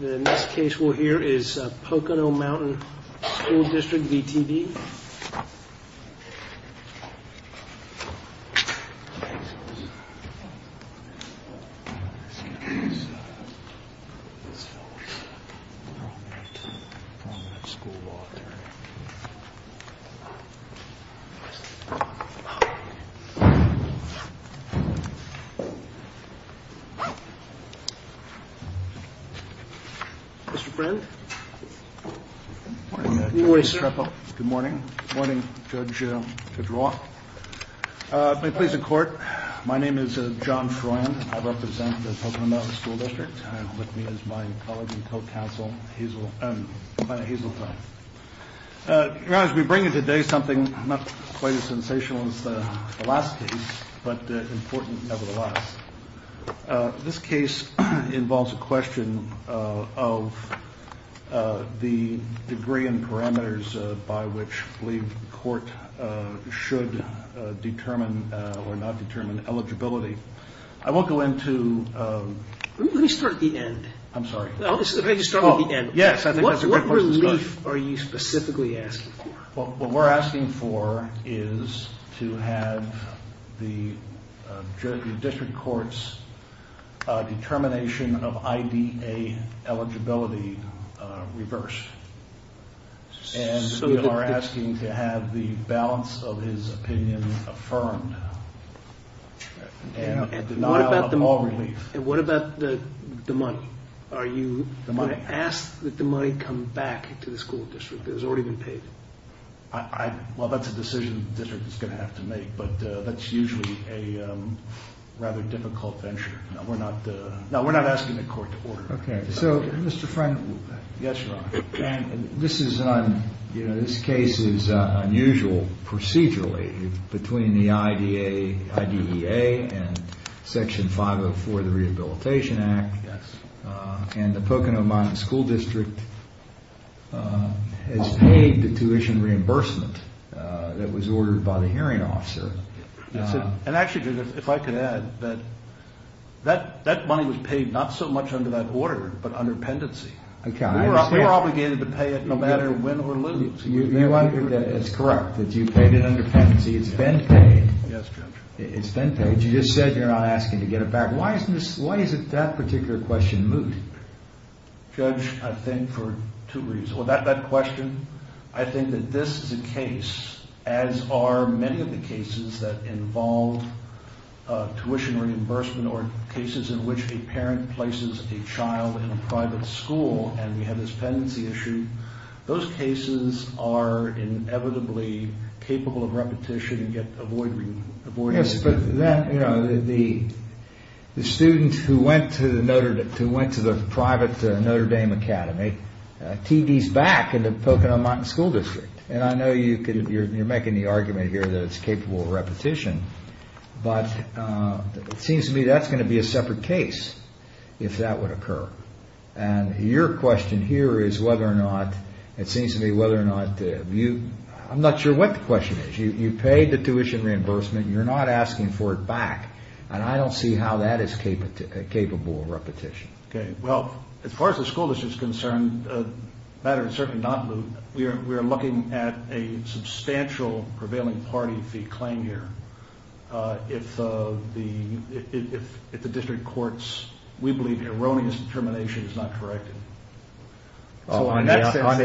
In this case we'll hear is Pocono Mountain School District v. T.D. Mr. Friend Good morning Judge Strepel Good morning Judge Roth May it please the Court My name is John Freund I represent the Pocono Mountain School District and with me is my colleague and co-counsel Hisel Your Honor, as we bring you today something not quite as sensational as the last case but important nevertheless This case involves a question of the degree and parameters by which we believe the Court should determine or not determine eligibility I won't go into Let me start at the end I'm sorry Let me start at the end Yes, I think that's a good question What relief are you specifically asking for? What we're asking for is to have the District Court's determination of I.D.A. eligibility reversed and we are asking to have the balance of his opinion affirmed and denial of all relief And what about the money? Are you going to ask that the money come back to the school district that has already been paid? Well, that's a decision the district is going to have to make but that's usually a rather difficult venture No, we're not asking the Court to order Okay, so Mr. Freund Yes, Your Honor This case is unusual procedurally between the I.D.A. and Section 504 of the Rehabilitation Act and the Pocono Mountain School District has paid the tuition reimbursement that was ordered by the hearing officer And actually, Judge, if I could add that money was paid not so much under that order but under pendency We were obligated to pay it no matter win or lose It's correct that you paid it under pendency It's been paid Yes, Judge It's been paid You just said you're not asking to get it back Why is it that particular question moot? Judge, I think for two reasons That question, I think that this is a case as are many of the cases that involve tuition reimbursement or cases in which a parent places a child in a private school and we have this pendency issue Those cases are inevitably capable of repetition and avoidance The student who went to the private Notre Dame Academy TV's back in the Pocono Mountain School District And I know you're making the argument here that it's capable of repetition But it seems to me that's going to be a separate case if that would occur And your question here is whether or not it seems to me whether or not I'm not sure what the question is You paid the tuition reimbursement You're not asking for it back And I don't see how that is capable of repetition Okay, well, as far as the school district is concerned The matter is certainly not moot We are looking at a substantial prevailing party fee claim here If the district courts We believe erroneous determination is not corrected On the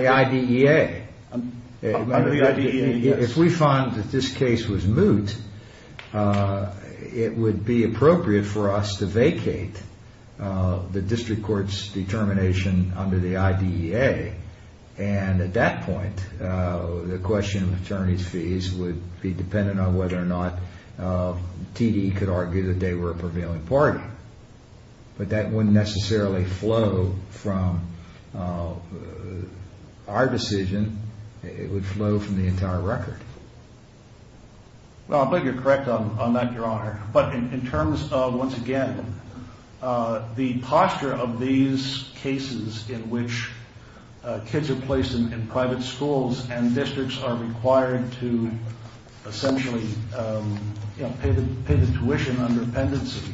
IDEA On the IDEA, yes If we find that this case was moot It would be appropriate for us to vacate The district court's determination under the IDEA And at that point The question of attorney's fees would be dependent on whether or not TD could argue that they were a prevailing party But that wouldn't necessarily flow from Our decision It would flow from the entire record Well, I think you're correct on that, your honor But in terms of, once again The posture of these cases in which Kids are placed in private schools And districts are required to Essentially Pay the tuition under pendency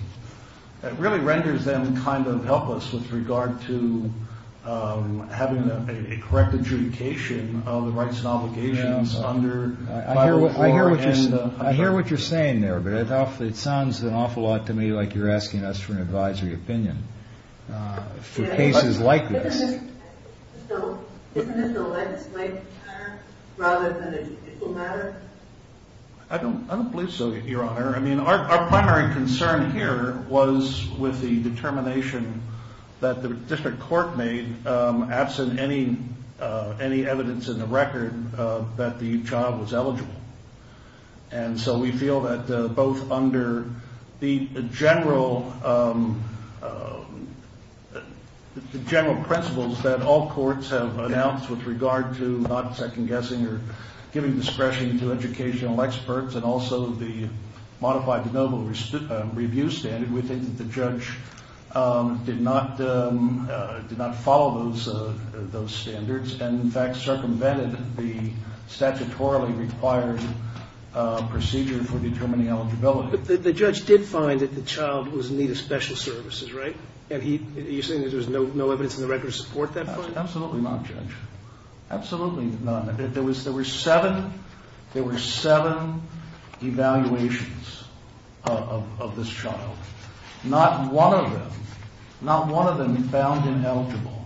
It really renders them kind of helpless with regard to Having a correct adjudication of the rights and obligations I hear what you're saying there But it sounds an awful lot to me like you're asking us for an advisory opinion For cases like this So, isn't this a legislative matter Rather than a judicial matter? I don't believe so, your honor I mean, our primary concern here was With the determination That the district court made Absent any evidence in the record That the child was eligible And so we feel that both under The general The general principles that all courts have announced With regard to not second-guessing or Giving discretion to educational experts And also the modified de novo review standard We think that the judge Did not follow those standards And in fact circumvented the statutorily required Procedure for determining eligibility The judge did find that the child was in need of special services, right? And you're saying there was no evidence in the record to support that? Absolutely not, judge Absolutely not There were seven Evaluations Of this child Not one of them Not one of them found ineligible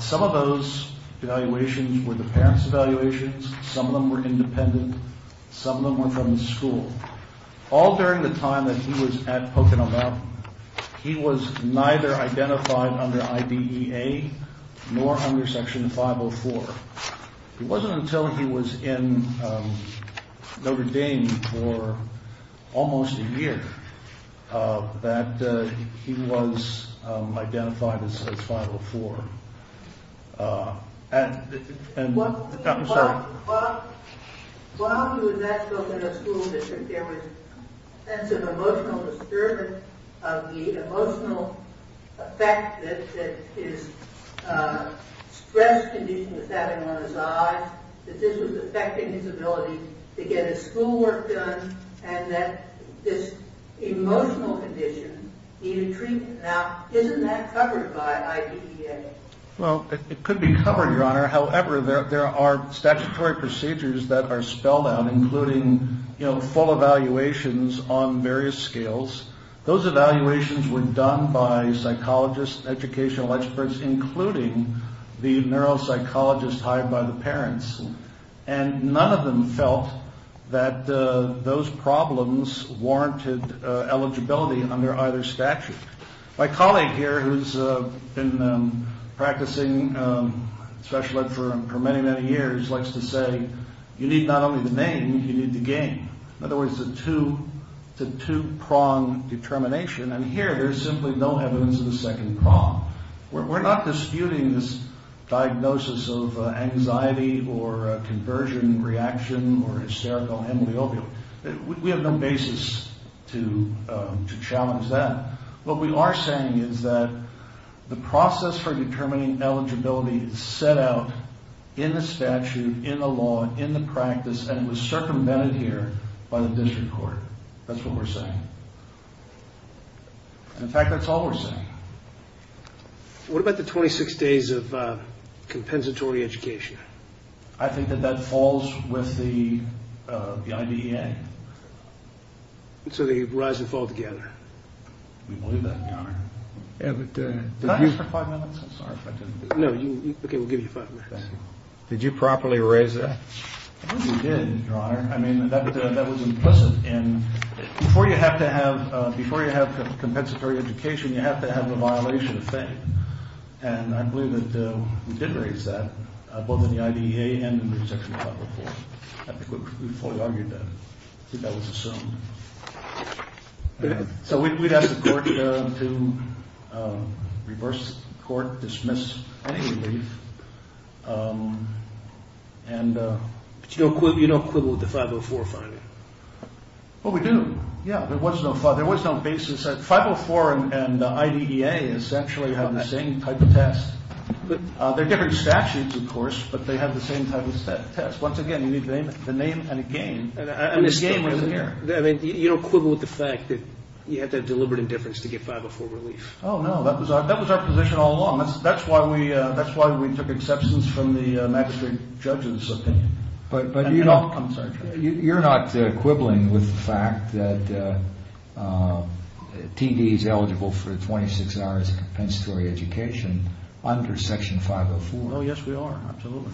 Some of those evaluations were the parents' evaluations Some of them were independent Some of them were from the school All during the time that he was at Pocono Mountain He was neither identified under IDEA Nor under section 504 It wasn't until he was in Notre Dame for almost a year That he was identified as 504 While he was at Pocono School District There was a sense of emotional disturbance Of the emotional effect That his stress condition was having on his eyes That this was affecting his ability to get his schoolwork done And that this emotional condition needed treatment Now, isn't that covered by IDEA? Well, it could be covered, your honor However, there are statutory procedures that are spelled out Including full evaluations on various scales Those evaluations were done by psychologists, educational experts Including the neuropsychologists hired by the parents And none of them felt that those problems Warranted eligibility under either statute My colleague here, who's been practicing special ed for many, many years Likes to say, you need not only the name, you need the game In other words, the two-prong determination And here, there's simply no evidence of the second prong We're not disputing this diagnosis of anxiety Or a conversion reaction or hysterical amyloid opioid We have no basis to challenge that What we are saying is that The process for determining eligibility is set out In the statute, in the law, in the practice And it was circumvented here by the district court That's what we're saying In fact, that's all we're saying What about the 26 days of compensatory education? I think that that falls with the IDEA So they rise and fall together We believe that, Your Honor Can I ask for five minutes? I'm sorry if I didn't do that No, okay, we'll give you five minutes Did you properly raise that? I think we did, Your Honor I mean, that was implicit Before you have compensatory education You have to have the violation of fame And I believe that we did raise that Both in the IDEA and in the section 504 I think we fully argued that I think that was assumed So we'd ask the court to reverse the court Dismiss any relief And it's no quibble with the 504 finding Well, we do, yeah There was no basis 504 and IDEA essentially have the same type of test They're different statutes, of course But they have the same type of test Once again, you need the name and a gain And the gain wasn't there You don't quibble with the fact that You had to have deliberate indifference to get 504 relief Oh, no, that was our position all along That's why we took exceptions from the magistrate judge's opinion You're not quibbling with the fact that TD is eligible for 26 hours of compensatory education Under section 504 Oh, yes, we are, absolutely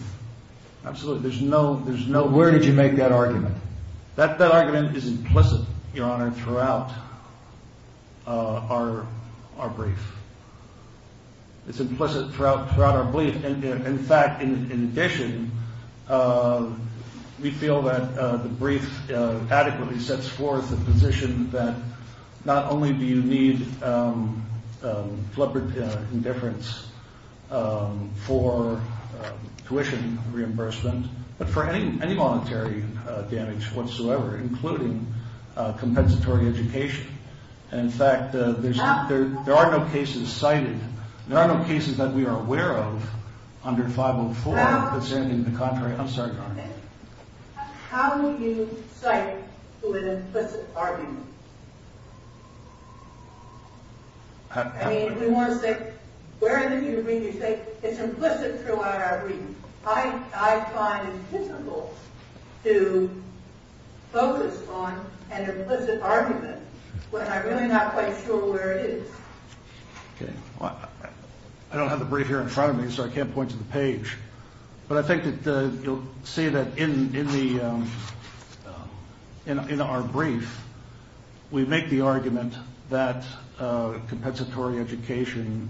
Absolutely, there's no... Where did you make that argument? That argument is implicit, Your Honor, throughout our brief It's implicit throughout our brief In fact, in addition We feel that the brief adequately sets forth the position that Not only do you need deliberate indifference For tuition reimbursement But for any monetary damage whatsoever Including compensatory education In fact, there are no cases cited There are no cases that we are aware of Under 504 presenting the contrary I'm sorry, Your Honor How do you cite with an implicit argument? I mean, we want to say Where in the brief do you say It's implicit throughout our brief I find it difficult to focus on an implicit argument When I'm really not quite sure where it is I don't have the brief here in front of me So I can't point to the page But I think that you'll see that in our brief We make the argument that Compensatory education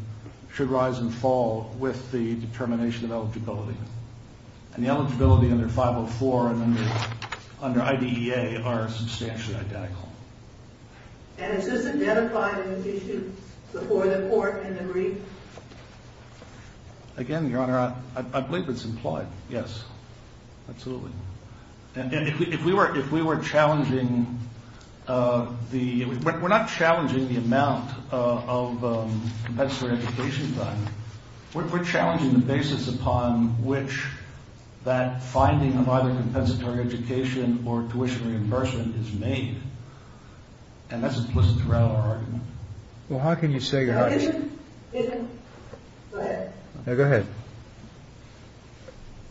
should rise and fall With the determination of eligibility And the eligibility under 504 and under IDEA Are substantially identical And is this identified in the issue Before the court and the brief? Again, Your Honor I believe it's implied, yes Absolutely And if we were challenging We're not challenging the amount of Compensatory education done We're challenging the basis upon which That finding of either compensatory education Or tuition reimbursement is made And that's implicit throughout our argument Well, how can you say, Your Honor Isn't... isn't... go ahead Yeah, go ahead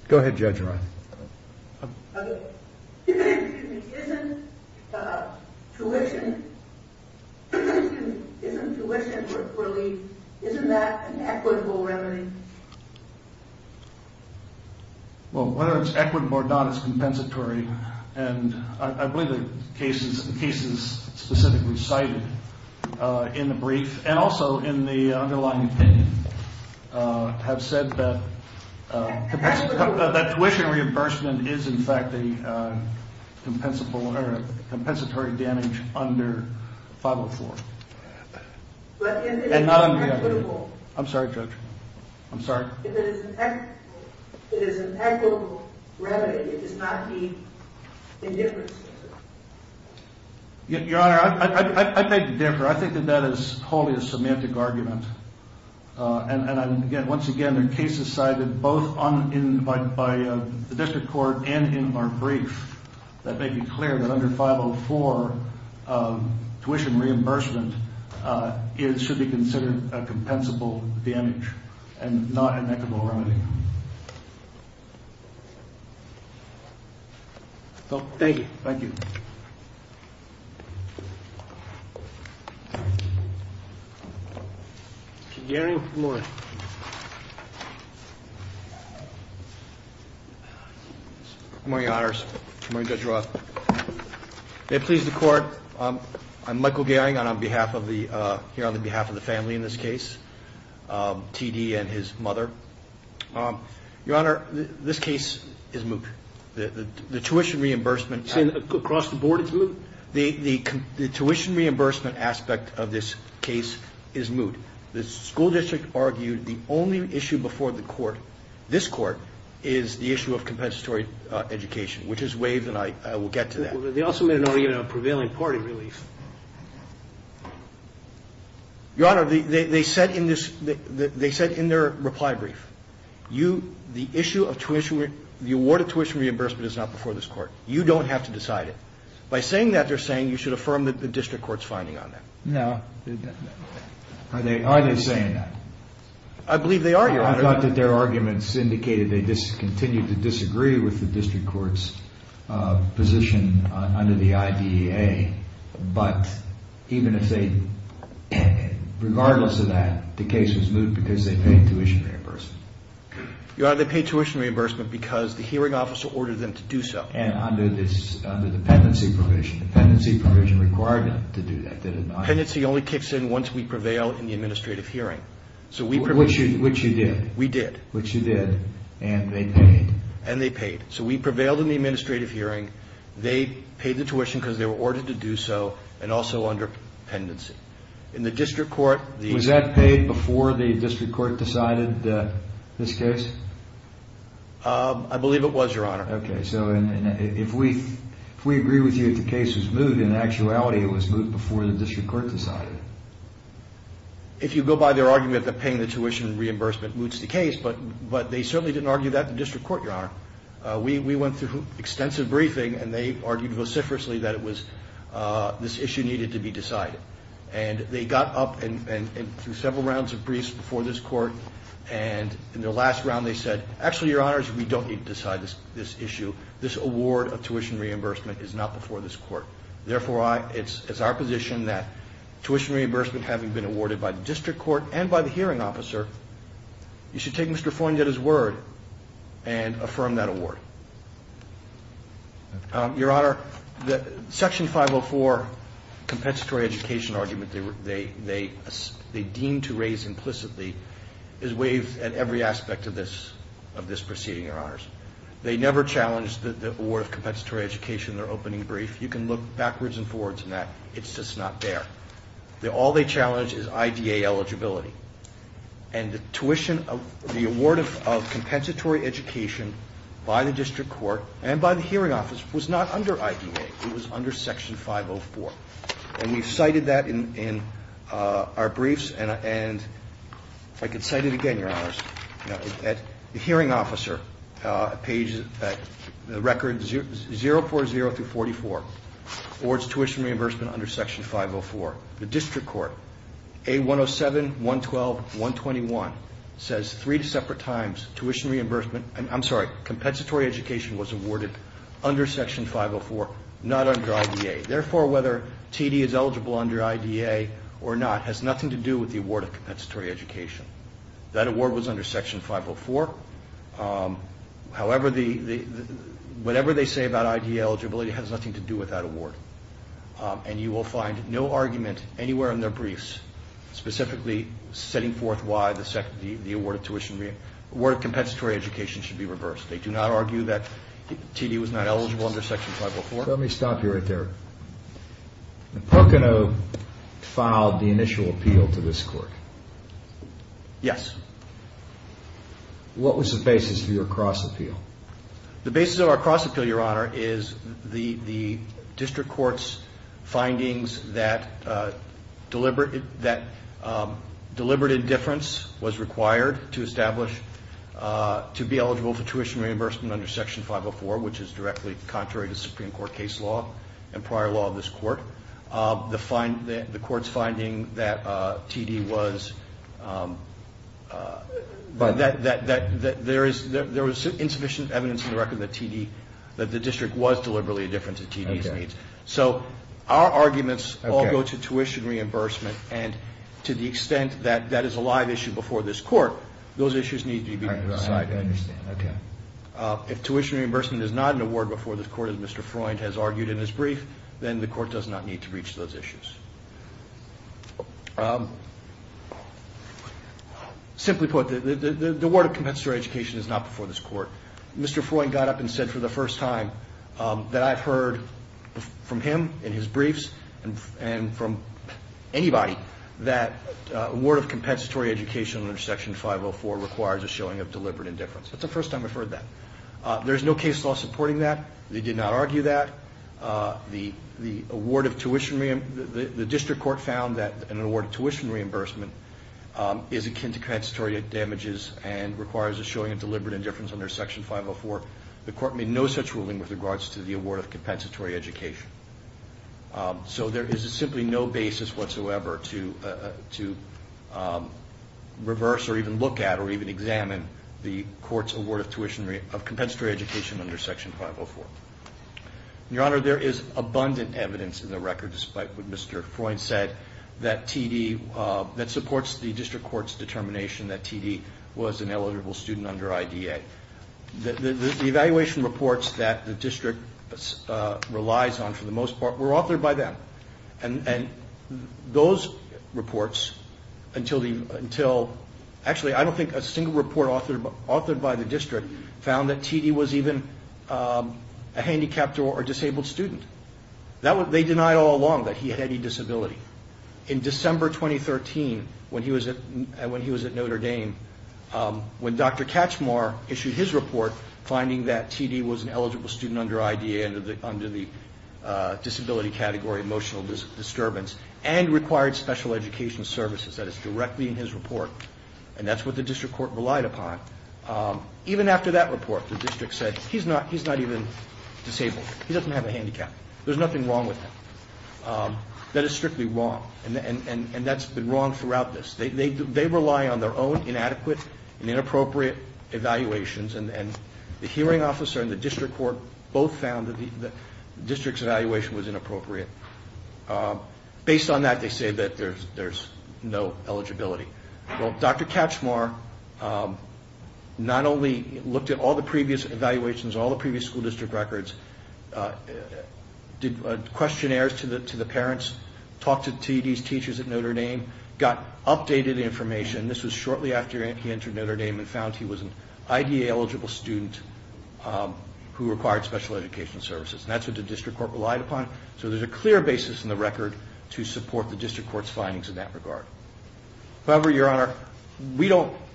Go ahead, Judge Roth Okay Isn't tuition... isn't tuition relief Isn't that an equitable remedy? Well, whether it's equitable or not It's compensatory And I believe the cases Specifically cited in the brief And also in the underlying opinion Have said that That tuition reimbursement is in fact A compensatory damage under 504 And not under IDEA I'm sorry, Judge I'm sorry If it is an equitable remedy It does not mean indifference Your Honor, I beg to differ I think that that is wholly a semantic argument And once again, there are cases cited Both by the district court and in our brief That make it clear that under 504 Tuition reimbursement Should be considered a compensable damage And not an equitable remedy So, thank you Mr. Gehring, good morning Good morning, Your Honors Good morning, Judge Roth May it please the Court I'm Michael Gehring And I'm here on behalf of the family in this case T.D. and his mother Your Honor, this case is moot The tuition reimbursement... You're saying across the board it's moot? The tuition reimbursement aspect of this case is moot The school district argued the only issue before the Court This Court Is the issue of compensatory education Which is waived and I will get to that They also made an argument on prevailing party relief Your Honor, they said in their reply brief The award of tuition reimbursement is not before this Court You don't have to decide it By saying that, they're saying you should affirm the district court's finding on that Are they saying that? I believe they are, Your Honor I thought that their arguments indicated They continue to disagree with the district court's position under the IDEA But even if they... Regardless of that, the case is moot because they paid tuition reimbursement Your Honor, they paid tuition reimbursement because the hearing officer ordered them to do so And under the pendency provision The pendency provision required them to do that, did it not? The pendency only kicks in once we prevail in the administrative hearing Which you did We did Which you did And they paid And they paid So we prevailed in the administrative hearing They paid the tuition because they were ordered to do so And also under pendency In the district court Was that paid before the district court decided this case? I believe it was, Your Honor Okay, so if we agree with you that the case was moot In actuality, it was moot before the district court decided If you go by their argument that paying the tuition reimbursement moots the case But they certainly didn't argue that in the district court, Your Honor We went through extensive briefing And they argued vociferously that it was... This issue needed to be decided And they got up and threw several rounds of briefs before this court And in the last round they said Actually, Your Honors, we don't need to decide this issue This award of tuition reimbursement is not before this court Therefore, it's our position that Tuition reimbursement having been awarded by the district court And by the hearing officer You should take Mr. Fornietta's word And affirm that award Your Honor, Section 504 Compensatory education argument They deemed to raise implicitly Is waived at every aspect of this proceeding, Your Honors They never challenged the award of compensatory education In their opening brief You can look backwards and forwards in that It's just not there All they challenge is IDA eligibility And the award of compensatory education By the district court and by the hearing officer Was not under IDA It was under Section 504 And we've cited that in our briefs And I can cite it again, Your Honors The hearing officer Pages record 040-44 Awards tuition reimbursement under Section 504 The district court, A107-112-121 Says three separate times Tuition reimbursement, I'm sorry Compensatory education was awarded under Section 504 Not under IDA Therefore, whether TD is eligible under IDA or not Has nothing to do with the award of compensatory education That award was under Section 504 However, whatever they say about IDA eligibility Has nothing to do with that award And you will find no argument anywhere in their briefs Specifically setting forth why the award of tuition Award of compensatory education should be reversed They do not argue that TD was not eligible under Section 504 Let me stop you right there Pocono filed the initial appeal to this court Yes What was the basis for your cross appeal? The basis of our cross appeal, Your Honor Is the district court's findings That deliberate indifference was required To establish, to be eligible for tuition reimbursement Under Section 504 Which is directly contrary to Supreme Court case law And prior law of this court The court's finding that TD was There was insufficient evidence in the record That the district was deliberately indifferent to TD's needs So our arguments all go to tuition reimbursement And to the extent that that is a live issue before this court Those issues need to be decided If tuition reimbursement is not an award before this court As Mr. Freund has argued in his brief Then the court does not need to reach those issues Simply put, the award of compensatory education Is not before this court Mr. Freund got up and said for the first time That I've heard from him in his briefs And from anybody That award of compensatory education under Section 504 Requires a showing of deliberate indifference That's the first time I've heard that There's no case law supporting that They did not argue that The award of tuition The district court found that an award of tuition reimbursement Is akin to compensatory damages And requires a showing of deliberate indifference Under Section 504 The court made no such ruling with regards to The award of compensatory education So there is simply no basis whatsoever To reverse or even look at or even examine The court's award of tuition Of compensatory education under Section 504 Your Honor, there is abundant evidence in the record Despite what Mr. Freund said That TD That supports the district court's determination That TD was an eligible student under IDA The evaluation reports that the district relies on For the most part were authored by them And those reports Until Actually, I don't think a single report authored by the district Found that TD was even a handicapped or disabled student They denied all along that he had any disability In December 2013 When he was at Notre Dame When Dr. Katchmar issued his report Finding that TD was an eligible student under IDA Under the disability category, emotional disturbance And required special education services That is directly in his report And that's what the district court relied upon Even after that report, the district said He's not even disabled He doesn't have a handicap There's nothing wrong with him That is strictly wrong And that's been wrong throughout this They rely on their own inadequate and inappropriate evaluations And the hearing officer and the district court Both found that the district's evaluation was inappropriate Based on that, they say that there's no eligibility Well, Dr. Katchmar Not only looked at all the previous evaluations All the previous school district records Did questionnaires to the parents Talked to TD's teachers at Notre Dame Got updated information This was shortly after he entered Notre Dame And found he was an IDA-eligible student Who required special education services And that's what the district court relied upon So there's a clear basis in the record To support the district court's findings in that regard However, Your Honor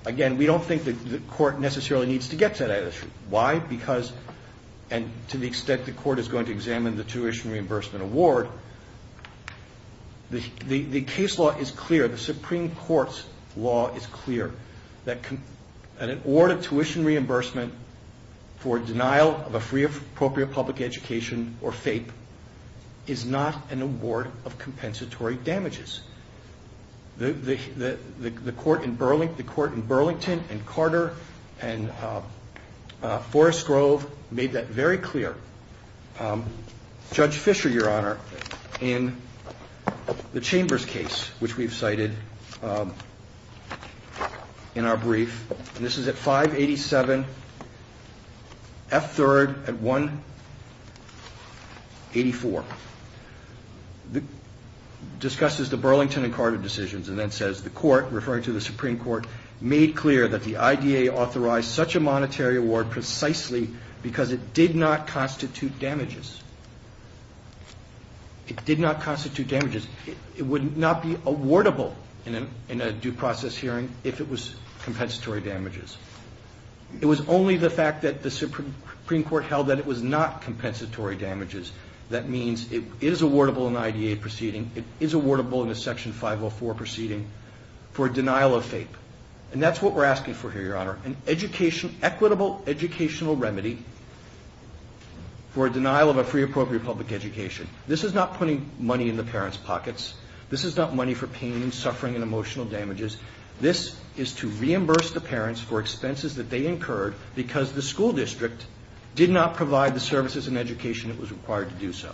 Again, we don't think the court necessarily needs to get to that issue Why? Because And to the extent the court is going to examine The tuition reimbursement award The case law is clear The Supreme Court's law is clear That an award of tuition reimbursement For denial of a free or appropriate public education Or FAPE Is not an award of compensatory damages The court in Burlington And Carter and Forest Grove Made that very clear Judge Fisher, Your Honor In the Chambers case Which we've cited In our brief This is at 587 F3rd at 184 Discusses the Burlington and Carter decisions And then says the court, referring to the Supreme Court Made clear that the IDA authorized such a monetary award Precisely because it did not constitute damages It would not be awardable in a due process hearing If it was compensatory damages It was only the fact that the Supreme Court held that It was not compensatory damages That means it is awardable in an IDA proceeding It is awardable in a Section 504 proceeding For denial of FAPE And that's what we're asking for here, Your Honor An equitable educational remedy For denial of a free or appropriate public education This is not putting money in the parents' pockets This is not money for pain and suffering and emotional damages This is to reimburse the parents for expenses that they incurred Because the school district Did not provide the services and education that was required to do so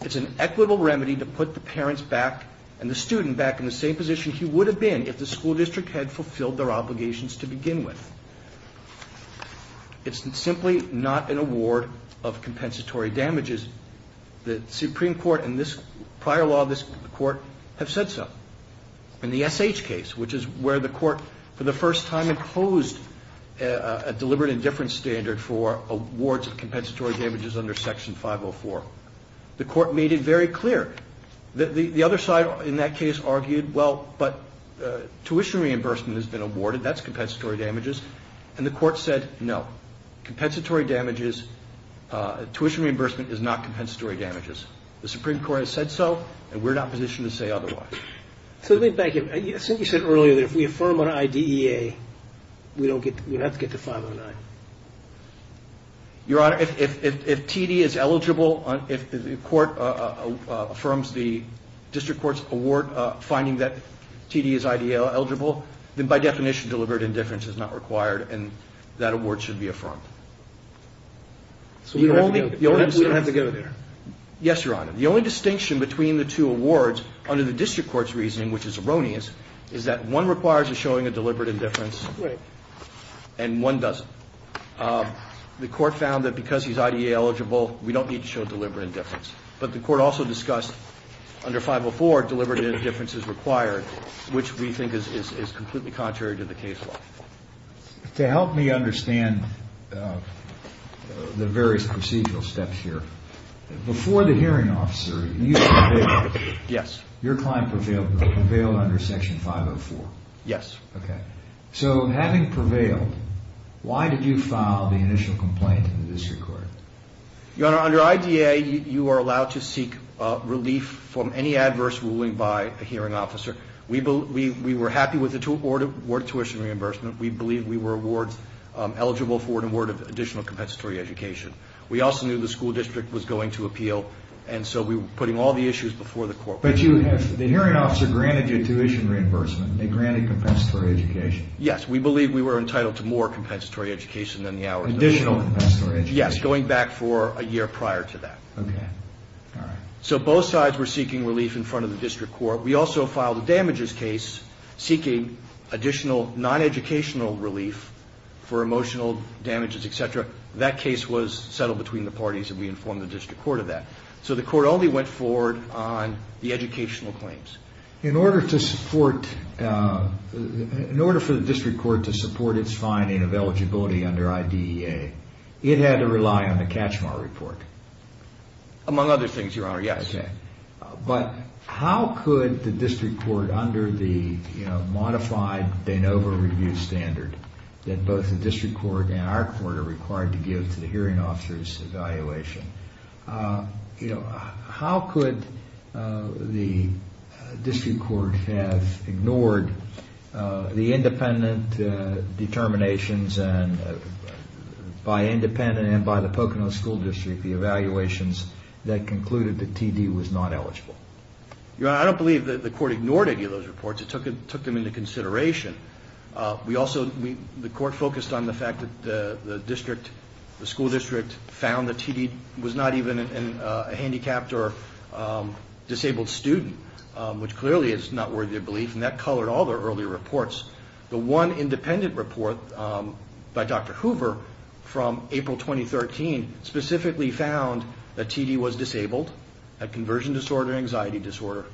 It's an equitable remedy to put the parents back And the student back in the same position he would have been If the school district had fulfilled their obligations to begin with It's simply not an award of compensatory damages The Supreme Court and this prior law of this court have said so In the SH case, which is where the court For the first time imposed a deliberate indifference standard For awards of compensatory damages under Section 504 The court made it very clear The other side in that case argued Well, but tuition reimbursement has been awarded That's compensatory damages And the court said no Compensatory damages Tuition reimbursement is not compensatory damages The Supreme Court has said so And we're not positioned to say otherwise So let me back up Since you said earlier that if we affirm on IDEA We have to get to 509 Your Honor, if TD is eligible If the court affirms the district court's award Finding that TD is IDEA eligible Then by definition deliberate indifference is not required And that award should be affirmed So we don't have to go there Yes, Your Honor The only distinction between the two awards Under the district court's reasoning, which is erroneous Is that one requires a showing of deliberate indifference Right And one doesn't The court found that because he's IDEA eligible We don't need to show deliberate indifference But the court also discussed Under 504, deliberate indifference is required Which we think is completely contrary to the case law To help me understand The various procedural steps here Before the hearing officer, you prevailed Yes Your client prevailed under Section 504 Yes Okay So having prevailed Why did you file the initial complaint in the district court? Your Honor, under IDEA You are allowed to seek relief From any adverse ruling by a hearing officer We were happy with the award of tuition reimbursement We believe we were awards Eligible for an award of additional compensatory education We also knew the school district was going to appeal And so we were putting all the issues before the court But the hearing officer granted you tuition reimbursement They granted compensatory education Yes, we believe we were entitled to more compensatory education Additional compensatory education Yes, going back for a year prior to that Okay, all right So both sides were seeking relief in front of the district court We also filed a damages case Seeking additional non-educational relief For emotional damages, etc. That case was settled between the parties And we informed the district court of that So the court only went forward on the educational claims In order to support In order for the district court to support Its finding of eligibility under IDEA It had to rely on the Kachemar report Among other things, Your Honor, yes But how could the district court Under the modified De Novo review standard That both the district court and our court Are required to give to the hearing officer's evaluation How could the district court Have ignored the independent determinations By independent and by the Poconos School District The evaluations that concluded that TD was not eligible Your Honor, I don't believe the court ignored any of those reports It took them into consideration The court focused on the fact that the school district Found that TD was not even a handicapped or disabled student Which clearly is not worthy of belief And that colored all their earlier reports The one independent report by Dr. Hoover From April 2013 Specifically found that TD was disabled Had conversion disorder and anxiety disorder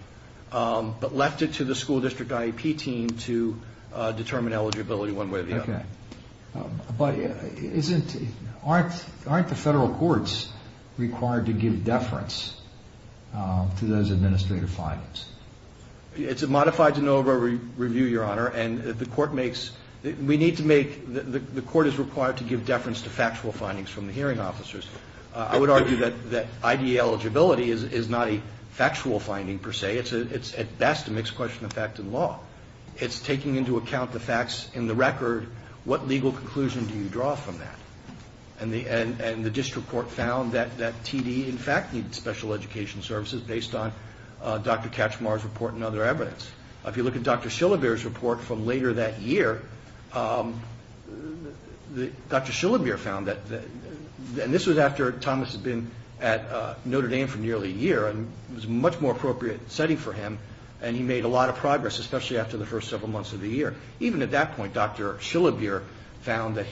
But left it to the school district IEP team To determine eligibility one way or the other But aren't the federal courts Required to give deference to those administrative findings? It's a modified De Novo review, Your Honor And we need to make The court is required to give deference To factual findings from the hearing officers I would argue that IDE eligibility Is not a factual finding per se It's at best a mixed question of fact and law It's taking into account the facts in the record What legal conclusion do you draw from that? And the district court found that TD in fact Needed special education services Based on Dr. Kachmar's report and other evidence If you look at Dr. Shillabier's report from later that year Dr. Shillabier found that And this was after Thomas had been at Notre Dame for nearly a year And it was a much more appropriate setting for him And he made a lot of progress Especially after the first several months of the year Even at that point Dr. Shillabier Found that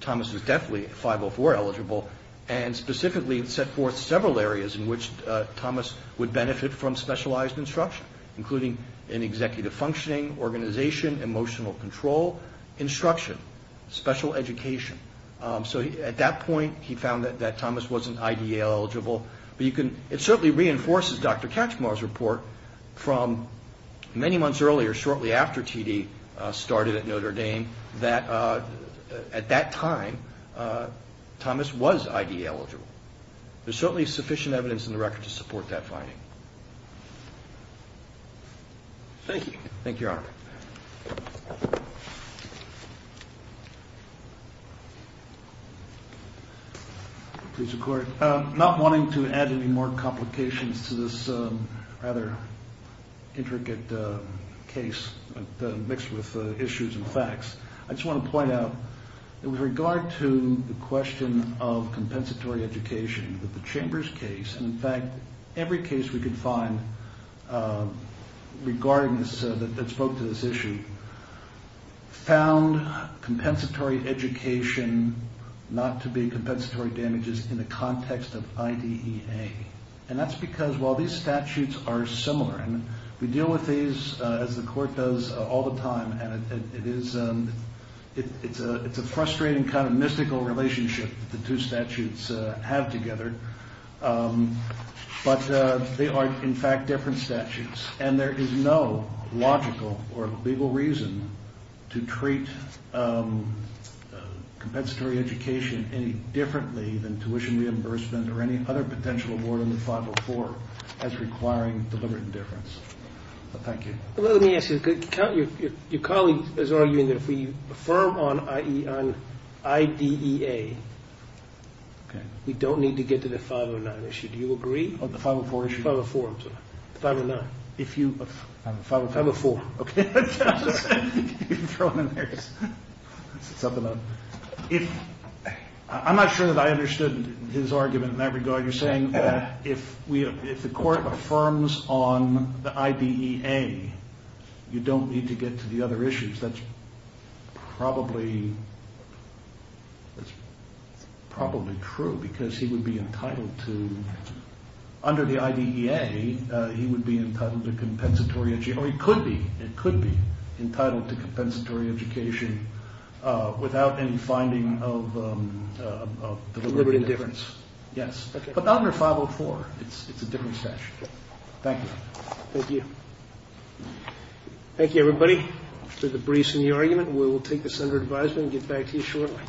Thomas was definitely 504 eligible And specifically set forth several areas In which Thomas would benefit from specialized instruction Including in executive functioning, organization Emotional control, instruction, special education So at that point he found that Thomas wasn't IDE eligible But it certainly reinforces Dr. Kachmar's report From many months earlier, shortly after TD started at Notre Dame That at that time Thomas was IDE eligible There's certainly sufficient evidence in the record to support that finding Thank you Thank you, your honor Please record Not wanting to add any more complications to this Rather intricate case Mixed with issues and facts I just want to point out With regard to the question of compensatory education With the Chambers case In fact, every case we could find Regarding this, that spoke to this issue Found compensatory education Not to be compensatory damages in the context of IDEA And that's because while these statutes are similar We deal with these as the court does all the time And it's a frustrating kind of mystical relationship The two statutes have together But they are in fact different statutes And there is no logical or legal reason To treat compensatory education any differently Than tuition reimbursement Or any other potential award under 504 As requiring deliberate indifference Thank you Let me ask you Your colleague is arguing that if we affirm on IDEA We don't need to get to the 509 issue Do you agree? The 504 issue? 504, I'm sorry 509 504 504 Okay I'm not sure that I understood his argument in that regard You're saying that if the court affirms on the IDEA You don't need to get to the other issues That's probably true Because he would be entitled to Under the IDEA He would be entitled to compensatory education Or he could be It could be Entitled to compensatory education Without any finding of deliberate indifference Yes But not under 504 It's a different statute Thank you Thank you Thank you everybody For the briefs and the argument We will take this under advisement And get back to you shortly